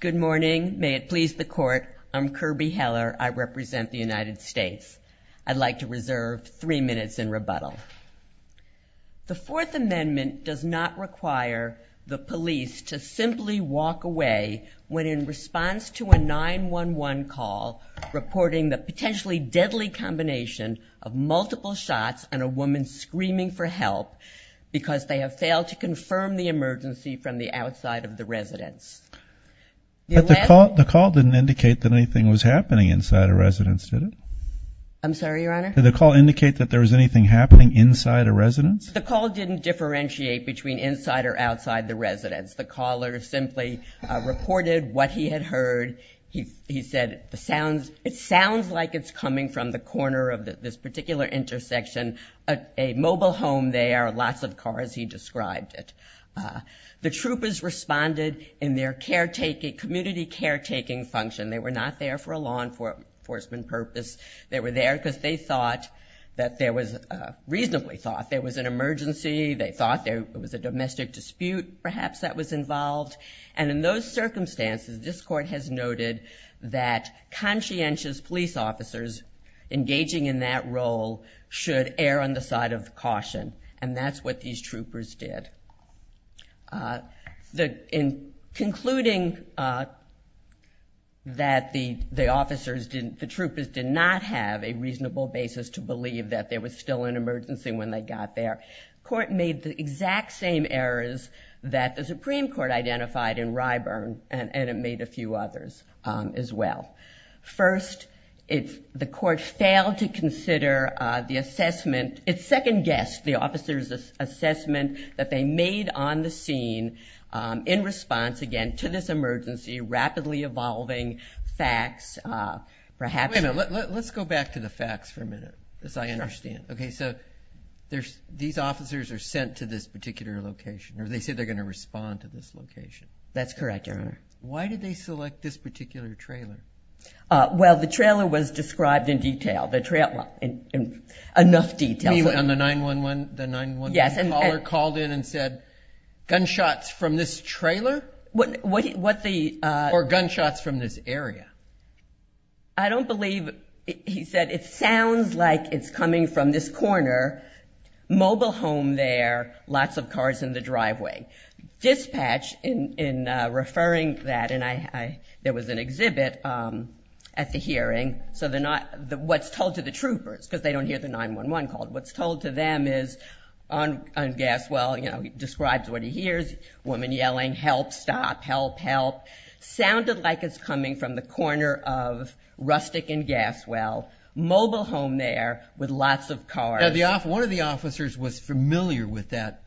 Good morning. May it please the court. I'm Kirby Heller. I represent the United States. I'd like to reserve three minutes in rebuttal. The Fourth Amendment does not require the police to simply walk away when in response to a 9-1-1 call reporting the potentially deadly combination of multiple shots and a woman screaming for help because they have to confirm the emergency from the outside of the residence. The call didn't indicate that anything was happening inside a residence, did it? I'm sorry, Your Honor? Did the call indicate that there was anything happening inside a residence? The call didn't differentiate between inside or outside the residence. The caller simply reported what he had heard. He said it sounds like it's coming from the corner of this The troopers responded in their community caretaking function. They were not there for a law enforcement purpose. They were there because they reasonably thought there was an emergency. They thought there was a domestic dispute perhaps that was involved. And in those circumstances, this Court has noted that conscientious police officers engaging in that role should err on the side of caution. And that's what these troopers did. In concluding that the troopers did not have a reasonable basis to believe that there was still an emergency when they got there, the Court made the exact same errors that the Supreme Court identified in Ryburn, and it made a few others as well. First, the Court failed to consider the assessment, its second guess, the officers' assessment that they made on the scene in response, again, to this emergency, rapidly evolving facts, perhaps... Wait a minute. Let's go back to the facts for a minute, as I understand. Sure. Okay, so these officers are sent to this particular location, or they said they're going to respond to this location. That's correct, Your Honor. Why did they select this particular trailer? Well, the trailer was described in detail, enough detail. The 911 caller called in and said, gunshots from this trailer? What the... Or gunshots from this area? I don't believe he said, it sounds like it's coming from this corner, mobile home there, lots of cars in the driveway. Dispatch, in referring to that, and there was an exhibit at the hearing, so they're not... What's told to the troopers, because they don't hear the 911 call, what's told to them is, on Gaswell, you know, he describes what he hears, woman yelling, help, stop, help, help, sounded like it's coming from the corner of Rustick and Gaswell, mobile home there with lots of cars. Now, one of the officers was familiar with that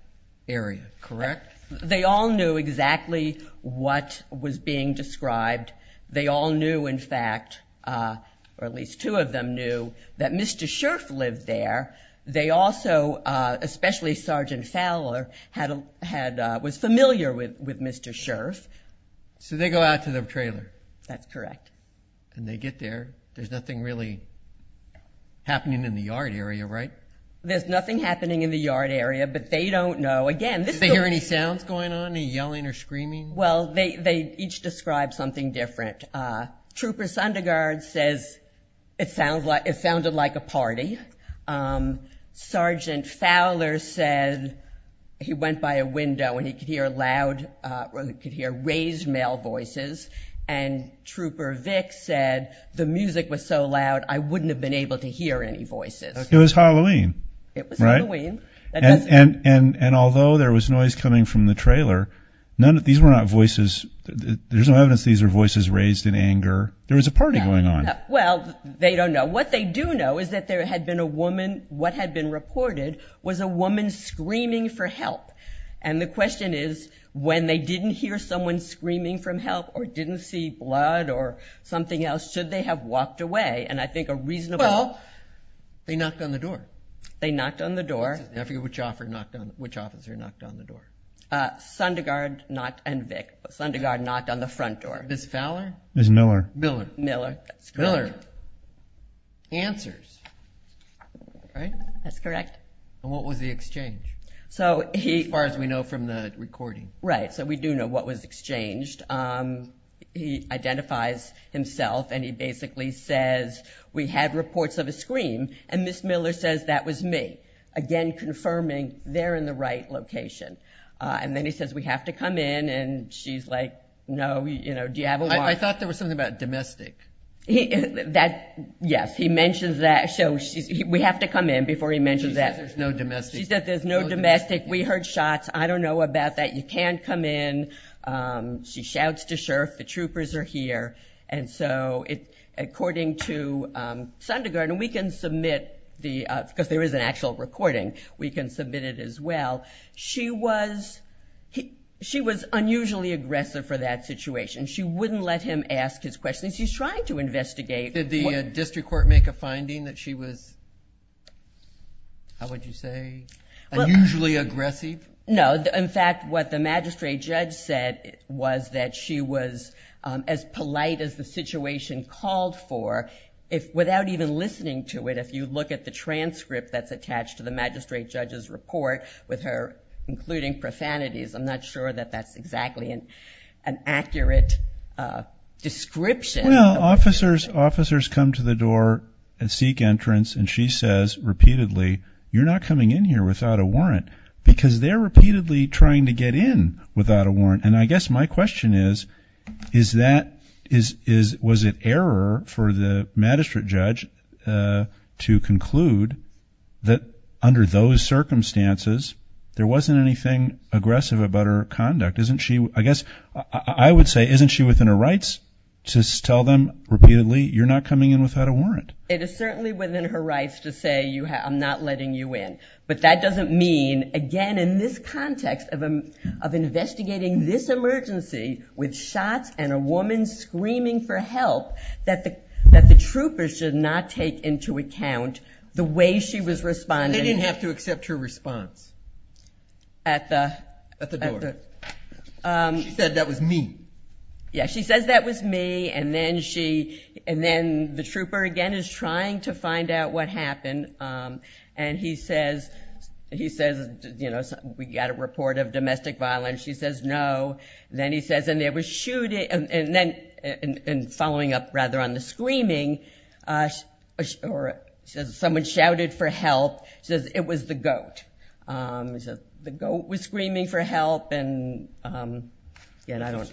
area, correct? They all knew exactly what was being described. They all knew, in fact, or at least two of them knew, that Mr. Scherff lived there. They also, especially Sergeant Fowler, was familiar with Mr. Scherff. So they go out to the trailer. That's correct. And they get there. There's nothing really happening in the yard area, right? There's nothing happening in the yard area, but they don't know. Again, this... Did they hear any sounds going on, any yelling or screaming? Well, they each described something different. Trooper Sundergard says it sounded like a party. Sergeant Fowler said he went by a window and he could hear loud, or he could hear raised male voices, and Trooper Vick said the music was so loud, I wouldn't have been able to hear any voices. It was Halloween, right? It was Halloween. And although there was noise coming from the trailer, these were not voices. There's no evidence these were voices raised in anger. There was a party going on. Well, they don't know. What they do know is that there had been a woman. What had been reported was a woman screaming for help. And the question is, when they didn't hear someone screaming for help or didn't see blood or something else, should they have walked away? And I think a reasonable... Well, they knocked on the door. They knocked on the door. I forget which officer knocked on the door. Sundergard and Vick. Sundergard knocked on the front door. Ms. Fowler? Ms. Miller. Miller. Miller. Answers. Right? That's correct. And what was the exchange? As far as we know from the recording. Right, so we do know what was exchanged. He identifies himself, and he basically says, we had reports of a scream, and Ms. Miller says, that was me. Again, confirming they're in the right location. And then he says, we have to come in, and she's like, no. Do you have a warrant? I thought there was something about domestic. Yes, he mentions that. We have to come in before he mentions that. She says there's no domestic. She says there's no domestic. We heard shots. I don't know about that. You can't come in. She shouts to Sheriff, the troopers are here. And so, according to Sundergard, and we can submit the, because there is an actual recording, we can submit it as well. She was unusually aggressive for that situation. She wouldn't let him ask his questions. She's trying to investigate. Did the district court make a finding that she was, how would you say, unusually aggressive? No. In fact, what the magistrate judge said was that she was as polite as the situation called for without even listening to it. If you look at the transcript that's attached to the magistrate judge's report with her including profanities, I'm not sure that that's exactly an accurate description. Well, officers come to the door and seek entrance, and she says repeatedly, you're not coming in here without a warrant because they're repeatedly trying to get in without a warrant. And I guess my question is, is that, was it error for the magistrate judge to conclude that under those circumstances there wasn't anything aggressive about her conduct? Isn't she, I guess I would say, isn't she within her rights to tell them repeatedly, you're not coming in without a warrant? It is certainly within her rights to say I'm not letting you in. But that doesn't mean, again, in this context of investigating this emergency with shots and a woman screaming for help that the troopers should not take into account the way she was responding. They didn't have to accept her response. At the door. She said that was me. Yeah, she says that was me, and then she, and then the trooper again is trying to find out what happened. And he says, you know, we got a report of domestic violence. She says no. Then he says, and there was shooting, and then, and following up rather on the screaming, someone shouted for help, says it was the goat. The goat was screaming for help, and I don't.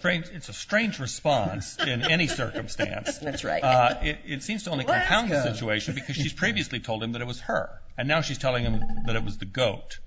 It's a strange response in any circumstance. That's right. It seems to only compound the situation because she's previously told him that it was her, and now she's telling him that it was the goat.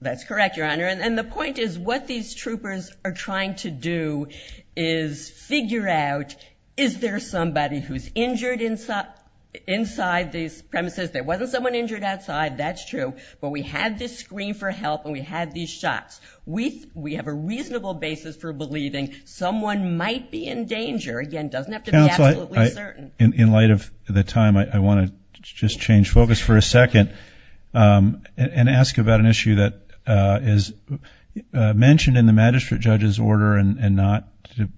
That's correct, Your Honor. And the point is what these troopers are trying to do is figure out, is there somebody who's injured inside these premises? There wasn't someone injured outside. That's true. But we had this scream for help, and we had these shots. We have a reasonable basis for believing someone might be in danger. Again, it doesn't have to be absolutely certain. Counsel, in light of the time, I want to just change focus for a second and ask about an issue that is mentioned in the magistrate judge's order and not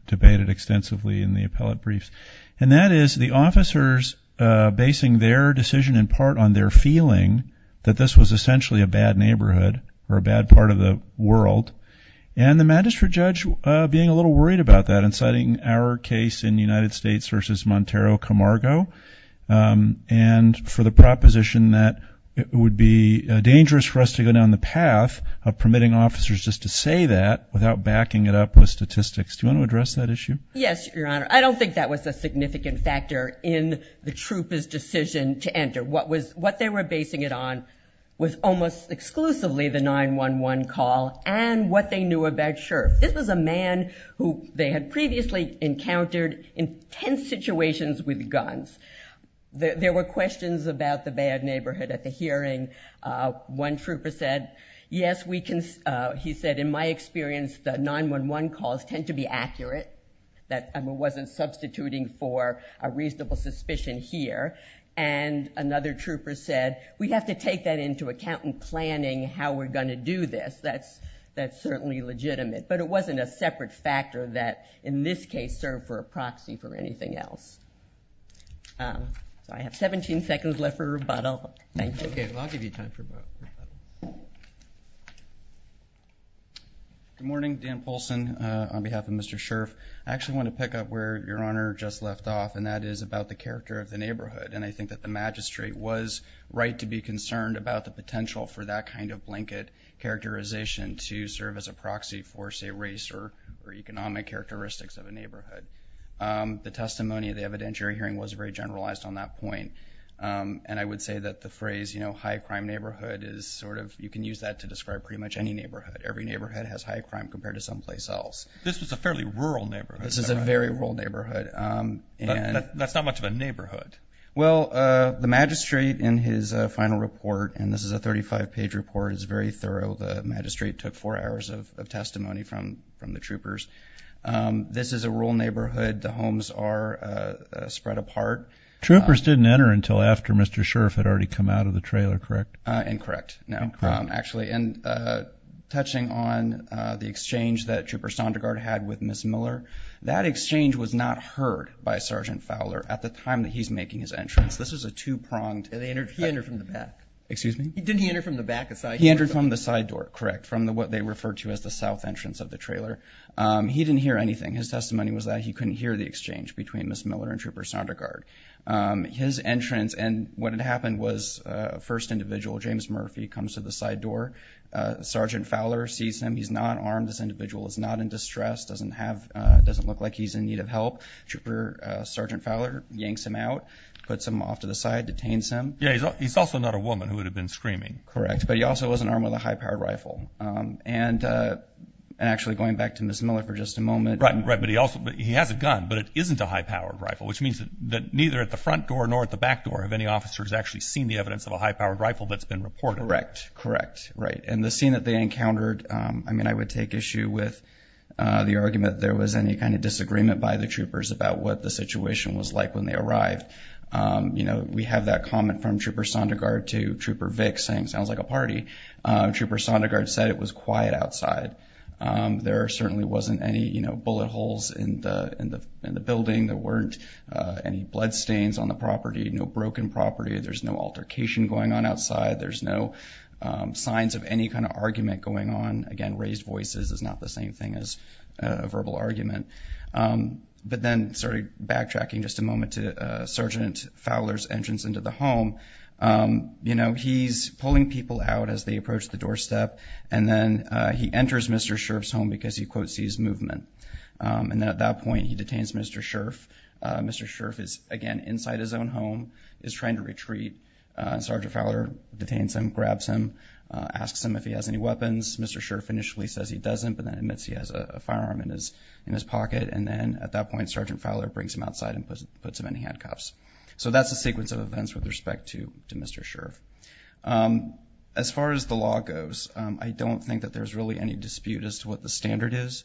debated extensively in the appellate briefs, and that is the officers basing their decision in part on their feeling that this was essentially a bad neighborhood or a bad part of the world, and the magistrate judge being a little worried about that and citing our case in the United States versus Montero Camargo and for the proposition that it would be dangerous for us to go down the path of permitting officers just to say that without backing it up with statistics. Do you want to address that issue? Yes, Your Honor. I don't think that was a significant factor in the trooper's decision to enter. What they were basing it on was almost exclusively the 911 call and what they knew about Sheriff. This was a man who they had previously encountered in tense situations with guns. There were questions about the bad neighborhood at the hearing. One trooper said, yes, he said, in my experience, the 911 calls tend to be accurate. It wasn't substituting for a reasonable suspicion here, and another trooper said, we have to take that into account in planning how we're going to do this. That's certainly legitimate. But it wasn't a separate factor that, in this case, served for a proxy for anything else. I have 17 seconds left for rebuttal. Thank you. Okay. I'll give you time for rebuttal. Good morning. Dan Polson on behalf of Mr. Scherff. I actually want to pick up where Your Honor just left off, and that is about the character of the neighborhood. I think that the magistrate was right to be concerned about the potential for that kind of blanket characterization to serve as a proxy for, say, race or economic characteristics of a neighborhood. The testimony at the evidentiary hearing was very generalized on that point. And I would say that the phrase, you know, high crime neighborhood is sort of, you can use that to describe pretty much any neighborhood. Every neighborhood has high crime compared to someplace else. This was a fairly rural neighborhood. This is a very rural neighborhood. That's not much of a neighborhood. Well, the magistrate in his final report, and this is a 35-page report. It's very thorough. The magistrate took four hours of testimony from the troopers. This is a rural neighborhood. The homes are spread apart. Troopers didn't enter until after Mr. Scherff had already come out of the trailer, correct? Incorrect, no, actually. And touching on the exchange that Trooper Sondergaard had with Ms. Miller, that exchange was not heard by Sergeant Fowler at the time that he's making his entrance. This was a two-pronged. He entered from the back. Excuse me? Didn't he enter from the back? He entered from the side door, correct, from what they referred to as the south entrance of the trailer. He didn't hear anything. His testimony was that he couldn't hear the exchange between Ms. Miller and Trooper Sondergaard. His entrance, and what had happened was a first individual, James Murphy, comes to the side door. Sergeant Fowler sees him. He's not armed. This individual is not in distress, doesn't look like he's in need of help. Trooper Sergeant Fowler yanks him out, puts him off to the side, detains him. Yeah, he's also not a woman who would have been screaming. Correct, but he also wasn't armed with a high-powered rifle. And actually, going back to Ms. Miller for just a moment. Right, but he has a gun, but it isn't a high-powered rifle, which means that neither at the front door nor at the back door have any officers actually seen the evidence of a high-powered rifle that's been reported. Correct, correct, right. And the scene that they encountered, I mean, I would take issue with the argument that there was any kind of disagreement by the troopers about what the situation was like when they arrived. You know, we have that comment from Trooper Sondergaard to Trooper Vick saying, sounds like a party. Trooper Sondergaard said it was quiet outside. There certainly wasn't any, you know, bullet holes in the building. There weren't any bloodstains on the property, no broken property. There's no altercation going on outside. There's no signs of any kind of argument going on. Again, raised voices is not the same thing as a verbal argument. But then, sorry, backtracking just a moment to Sergeant Fowler's entrance into the home. You know, he's pulling people out as they approach the doorstep, and then he enters Mr. Scherff's home because he, quote, sees movement. And at that point, he detains Mr. Scherff. Mr. Scherff is, again, inside his own home, is trying to retreat. Sergeant Fowler detains him, grabs him, asks him if he has any weapons. Mr. Scherff initially says he doesn't, but then admits he has a firearm in his pocket. And then at that point, Sergeant Fowler brings him outside and puts him in handcuffs. So that's a sequence of events with respect to Mr. Scherff. As far as the law goes, I don't think that there's really any dispute as to what the standard is.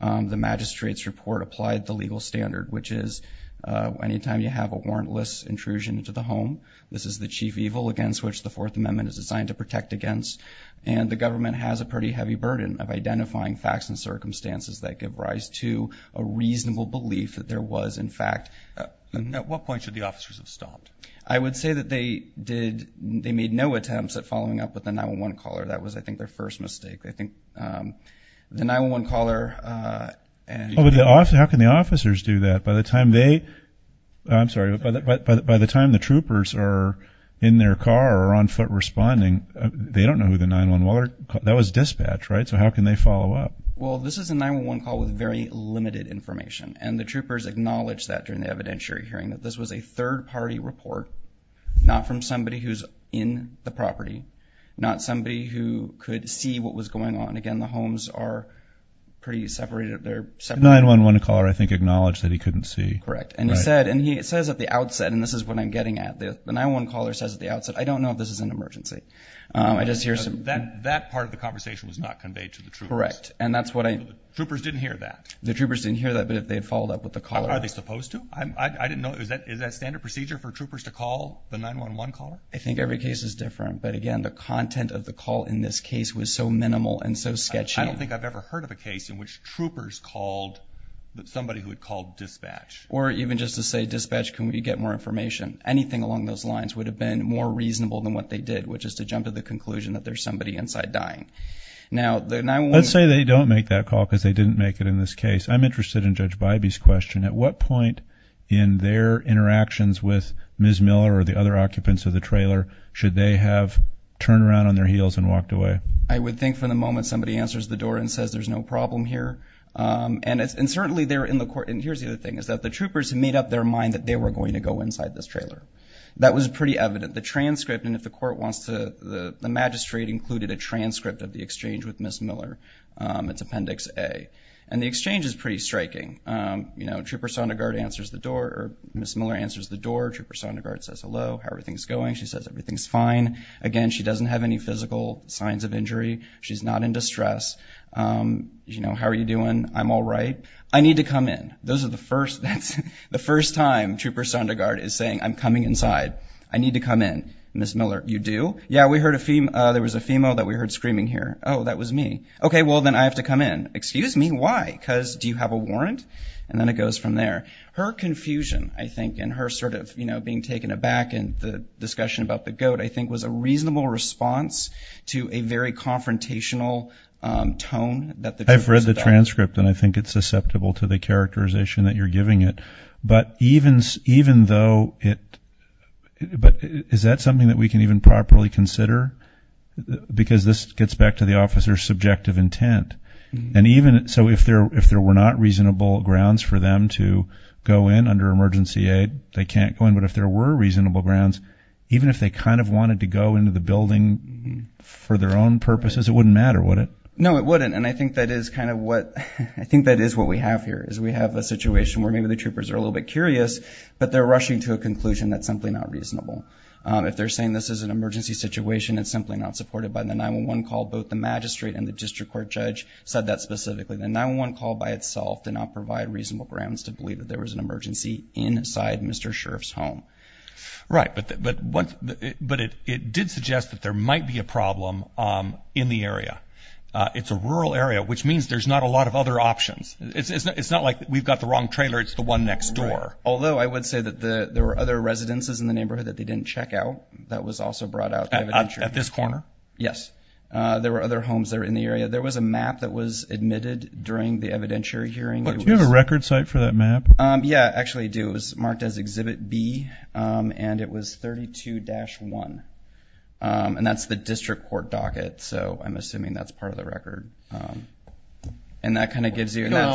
The magistrate's report applied the legal standard, which is anytime you have a warrantless intrusion into the home, this is the chief evil against which the Fourth Amendment is designed to protect against. And the government has a pretty heavy burden of identifying facts and circumstances that give rise to a reasonable belief that there was, in fact, At what point should the officers have stopped? I would say that they made no attempts at following up with the 911 caller. That was, I think, their first mistake. The 911 caller and How can the officers do that? By the time they, I'm sorry, by the time the troopers are in their car or on foot responding, they don't know who the 911 caller, that was dispatch, right? So how can they follow up? Well, this is a 911 call with very limited information. And the troopers acknowledged that during the evidentiary hearing, that this was a third-party report, not from somebody who's in the property, not somebody who could see what was going on. Again, the homes are pretty separated. The 911 caller, I think, acknowledged that he couldn't see. Correct. And he said, and he says at the outset, and this is what I'm getting at, the 911 caller says at the outset, I don't know if this is an emergency. I just hear some That part of the conversation was not conveyed to the troopers. Correct. And that's what I Troopers didn't hear that. The troopers didn't hear that, but they had followed up with the caller. Are they supposed to? I didn't know. Is that standard procedure for troopers to call the 911 caller? I think every case is different. But again, the content of the call in this case was so minimal and so sketchy. I don't think I've ever heard of a case in which troopers called somebody who had called dispatch. Or even just to say, dispatch, can we get more information? Anything along those lines would have been more reasonable than what they did, which is to jump to the conclusion that there's somebody inside dying. Let's say they don't make that call because they didn't make it in this case. I'm interested in Judge Bybee's question. At what point in their interactions with Ms. Miller or the other occupants of the trailer should they have turned around on their heels and walked away? I would think from the moment somebody answers the door and says there's no problem here. And certainly they're in the court. And here's the other thing is that the troopers made up their mind that they were going to go inside this trailer. That was pretty evident. The magistrate included a transcript of the exchange with Ms. Miller. It's Appendix A. And the exchange is pretty striking. Trooper Sondergaard answers the door, or Ms. Miller answers the door. Trooper Sondergaard says hello, how everything's going. She says everything's fine. Again, she doesn't have any physical signs of injury. She's not in distress. How are you doing? I'm all right. I need to come in. Those are the first times Trooper Sondergaard is saying I'm coming inside. I need to come in. Ms. Miller, you do? Yeah, there was a female that we heard screaming here. Oh, that was me. Okay, well, then I have to come in. Excuse me, why? Because do you have a warrant? And then it goes from there. Her confusion, I think, and her sort of being taken aback in the discussion about the goat, I think, was a reasonable response to a very confrontational tone that the troopers developed. It's a transcript, and I think it's susceptible to the characterization that you're giving it. But is that something that we can even properly consider? Because this gets back to the officer's subjective intent. So if there were not reasonable grounds for them to go in under emergency aid, they can't go in. But if there were reasonable grounds, even if they kind of wanted to go into the building for their own purposes, it wouldn't matter, would it? No, it wouldn't. And I think that is kind of what we have here, is we have a situation where maybe the troopers are a little bit curious, but they're rushing to a conclusion that's simply not reasonable. If they're saying this is an emergency situation, it's simply not supported by the 911 call. Both the magistrate and the district court judge said that specifically. The 911 call by itself did not provide reasonable grounds to believe that there was an emergency inside Mr. Sheriff's home. Right, but it did suggest that there might be a problem in the area. It's a rural area, which means there's not a lot of other options. It's not like we've got the wrong trailer, it's the one next door. Although I would say that there were other residences in the neighborhood that they didn't check out that was also brought out. At this corner? Yes. There were other homes that were in the area. There was a map that was admitted during the evidentiary hearing. Do you have a record site for that map? Yeah, I actually do. It was marked as Exhibit B, and it was 32-1. And that's the district court docket, so I'm assuming that's part of the record. And that kind of gives you… We don't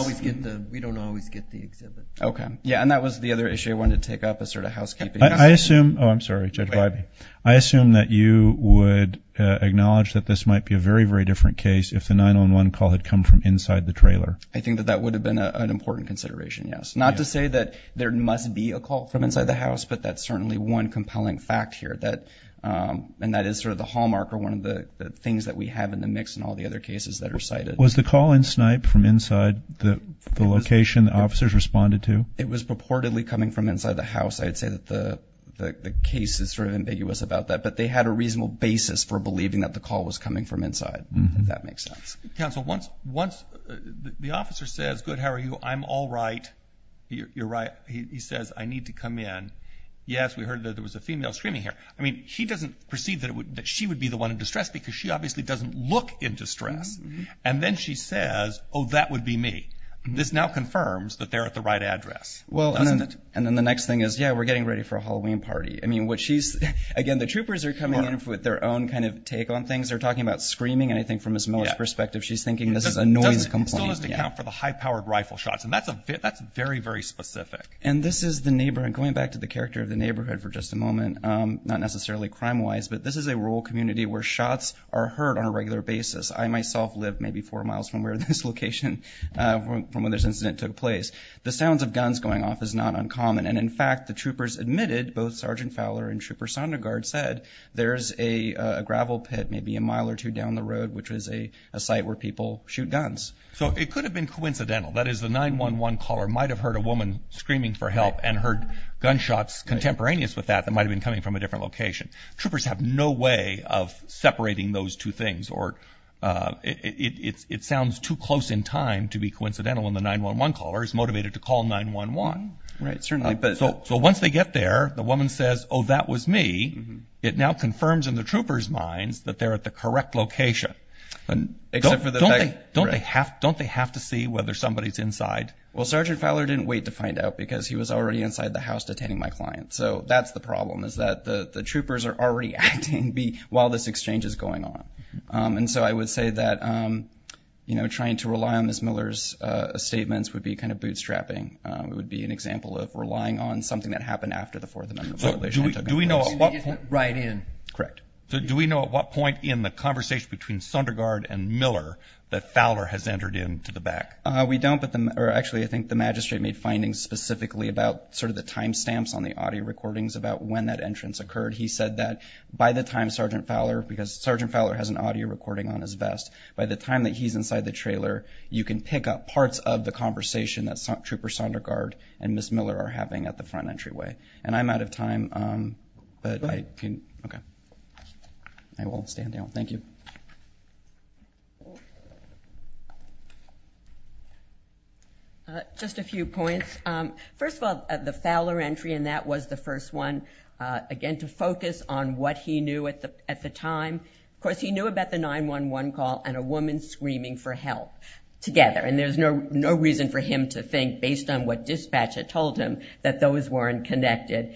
always get the exhibit. Okay. Yeah, and that was the other issue I wanted to take up as sort of housekeeping. I assume – oh, I'm sorry, Judge Wybie. I assume that you would acknowledge that this might be a very, very different case if the 911 call had come from inside the trailer. I think that that would have been an important consideration, yes. Not to say that there must be a call from inside the house, but that's certainly one compelling fact here, and that is sort of the hallmark or one of the things that we have in the mix in all the other cases that are cited. Was the call in Snipe from inside the location the officers responded to? It was purportedly coming from inside the house. I would say that the case is sort of ambiguous about that, but they had a reasonable basis for believing that the call was coming from inside, if that makes sense. Counsel, once the officer says, good, how are you? I'm all right. You're right. He says, I need to come in. Yes, we heard that there was a female screaming here. I mean, she doesn't perceive that she would be the one in distress because she obviously doesn't look in distress, and then she says, oh, that would be me. This now confirms that they're at the right address, doesn't it? Well, and then the next thing is, yeah, we're getting ready for a Halloween party. I mean, what she's – again, the troopers are coming in with their own kind of take on things. They're talking about screaming, and I think from Ms. Miller's perspective, she's thinking this is a noise complaint. Still doesn't account for the high-powered rifle shots, and that's very, very specific. And this is the neighborhood. Going back to the character of the neighborhood for just a moment, not necessarily crime-wise, but this is a rural community where shots are heard on a regular basis. I myself live maybe four miles from where this location, from where this incident took place. The sounds of guns going off is not uncommon, and, in fact, the troopers admitted, both Sergeant Fowler and Trooper Sondergaard said, there's a gravel pit maybe a mile or two down the road, which is a site where people shoot guns. So it could have been coincidental. That is, the 911 caller might have heard a woman screaming for help and heard gunshots contemporaneous with that that might have been coming from a different location. Troopers have no way of separating those two things, or it sounds too close in time to be coincidental when the 911 caller is motivated to call 911. Right, certainly. So once they get there, the woman says, oh, that was me. It now confirms in the troopers' minds that they're at the correct location. Don't they have to see whether somebody's inside? Well, Sergeant Fowler didn't wait to find out because he was already inside the house detaining my client. So that's the problem is that the troopers are already acting while this exchange is going on. And so I would say that trying to rely on Ms. Miller's statements would be kind of bootstrapping. It would be an example of relying on something that happened after the Fourth Amendment violation. Do we know at what point in the conversation between Sundergaard and Miller that Fowler has entered into the back? Actually, I think the magistrate made findings specifically about sort of the time stamps on the audio recordings about when that entrance occurred. He said that by the time Sergeant Fowler, because Sergeant Fowler has an audio recording on his vest, by the time that he's inside the trailer, you can pick up parts of the conversation that Trooper Sundergaard and Ms. Miller are having at the front entryway. And I'm out of time, but I will stand down. Thank you. Just a few points. First of all, the Fowler entry, and that was the first one, again, to focus on what he knew at the time. Of course, he knew about the 911 call and a woman screaming for help together, and there's no reason for him to think, based on what dispatch had told him, that those weren't connected.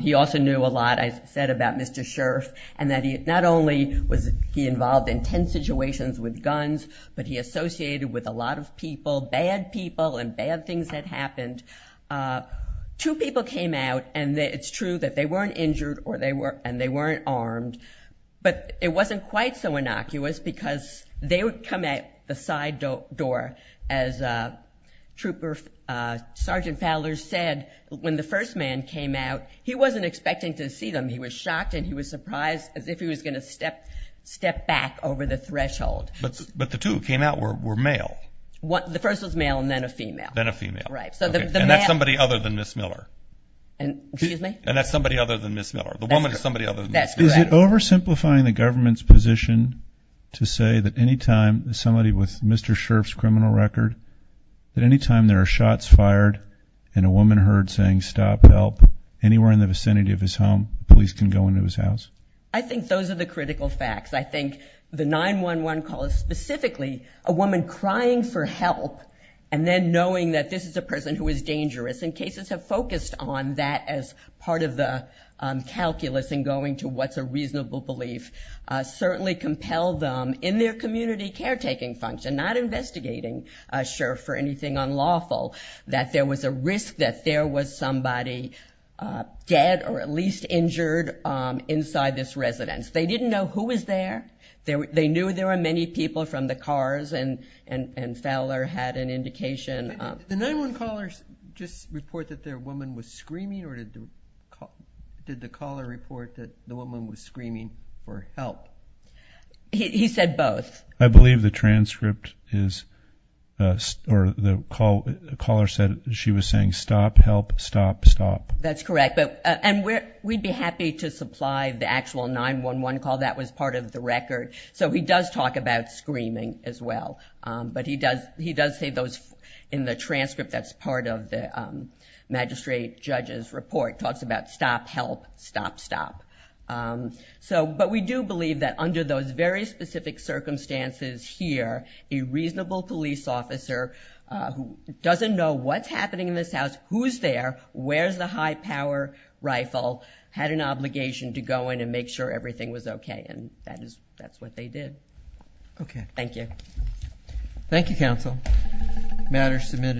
He also knew a lot, as I said, about Mr. Scherff and that not only was he involved in tense situations with guns, but he associated with a lot of people, bad people and bad things that happened. Two people came out, and it's true that they weren't injured and they weren't armed, but it wasn't quite so innocuous because they would come at the side door, as Trooper Sergeant Fowler said, when the first man came out, he wasn't expecting to see them. He was shocked and he was surprised as if he was going to step back over the threshold. But the two who came out were male. The first was male and then a female. Then a female. Right. And that's somebody other than Ms. Miller. Excuse me? The woman is somebody other than Ms. Miller. Yes, correct. Is it oversimplifying the government's position to say that any time somebody with Mr. Scherff's criminal record, that any time there are shots fired and a woman heard saying, stop, help, anywhere in the vicinity of his home, police can go into his house? I think those are the critical facts. I think the 9-1-1 call is specifically a woman crying for help and then knowing that this is a person who is dangerous. And cases have focused on that as part of the calculus in going to what's a reasonable belief. Certainly compelled them in their community caretaking function, not investigating Scherff for anything unlawful, that there was a risk that there was somebody dead or at least injured inside this residence. They didn't know who was there. They knew there were many people from the cars, and Fowler had an indication. Did the 9-1-1 callers just report that their woman was screaming, or did the caller report that the woman was screaming for help? He said both. I believe the transcript is, or the caller said she was saying, stop, help, stop, stop. That's correct. And we'd be happy to supply the actual 9-1-1 call. That was part of the record. So he does talk about screaming as well. But he does say those in the transcript that's part of the magistrate judge's report, talks about stop, help, stop, stop. But we do believe that under those very specific circumstances here, a reasonable police officer who doesn't know what's happening in this house, who's there, where's the high-power rifle, had an obligation to go in and make sure everything was okay, and that's what they did. Okay. Thank you. Thank you, counsel. Matter submitted.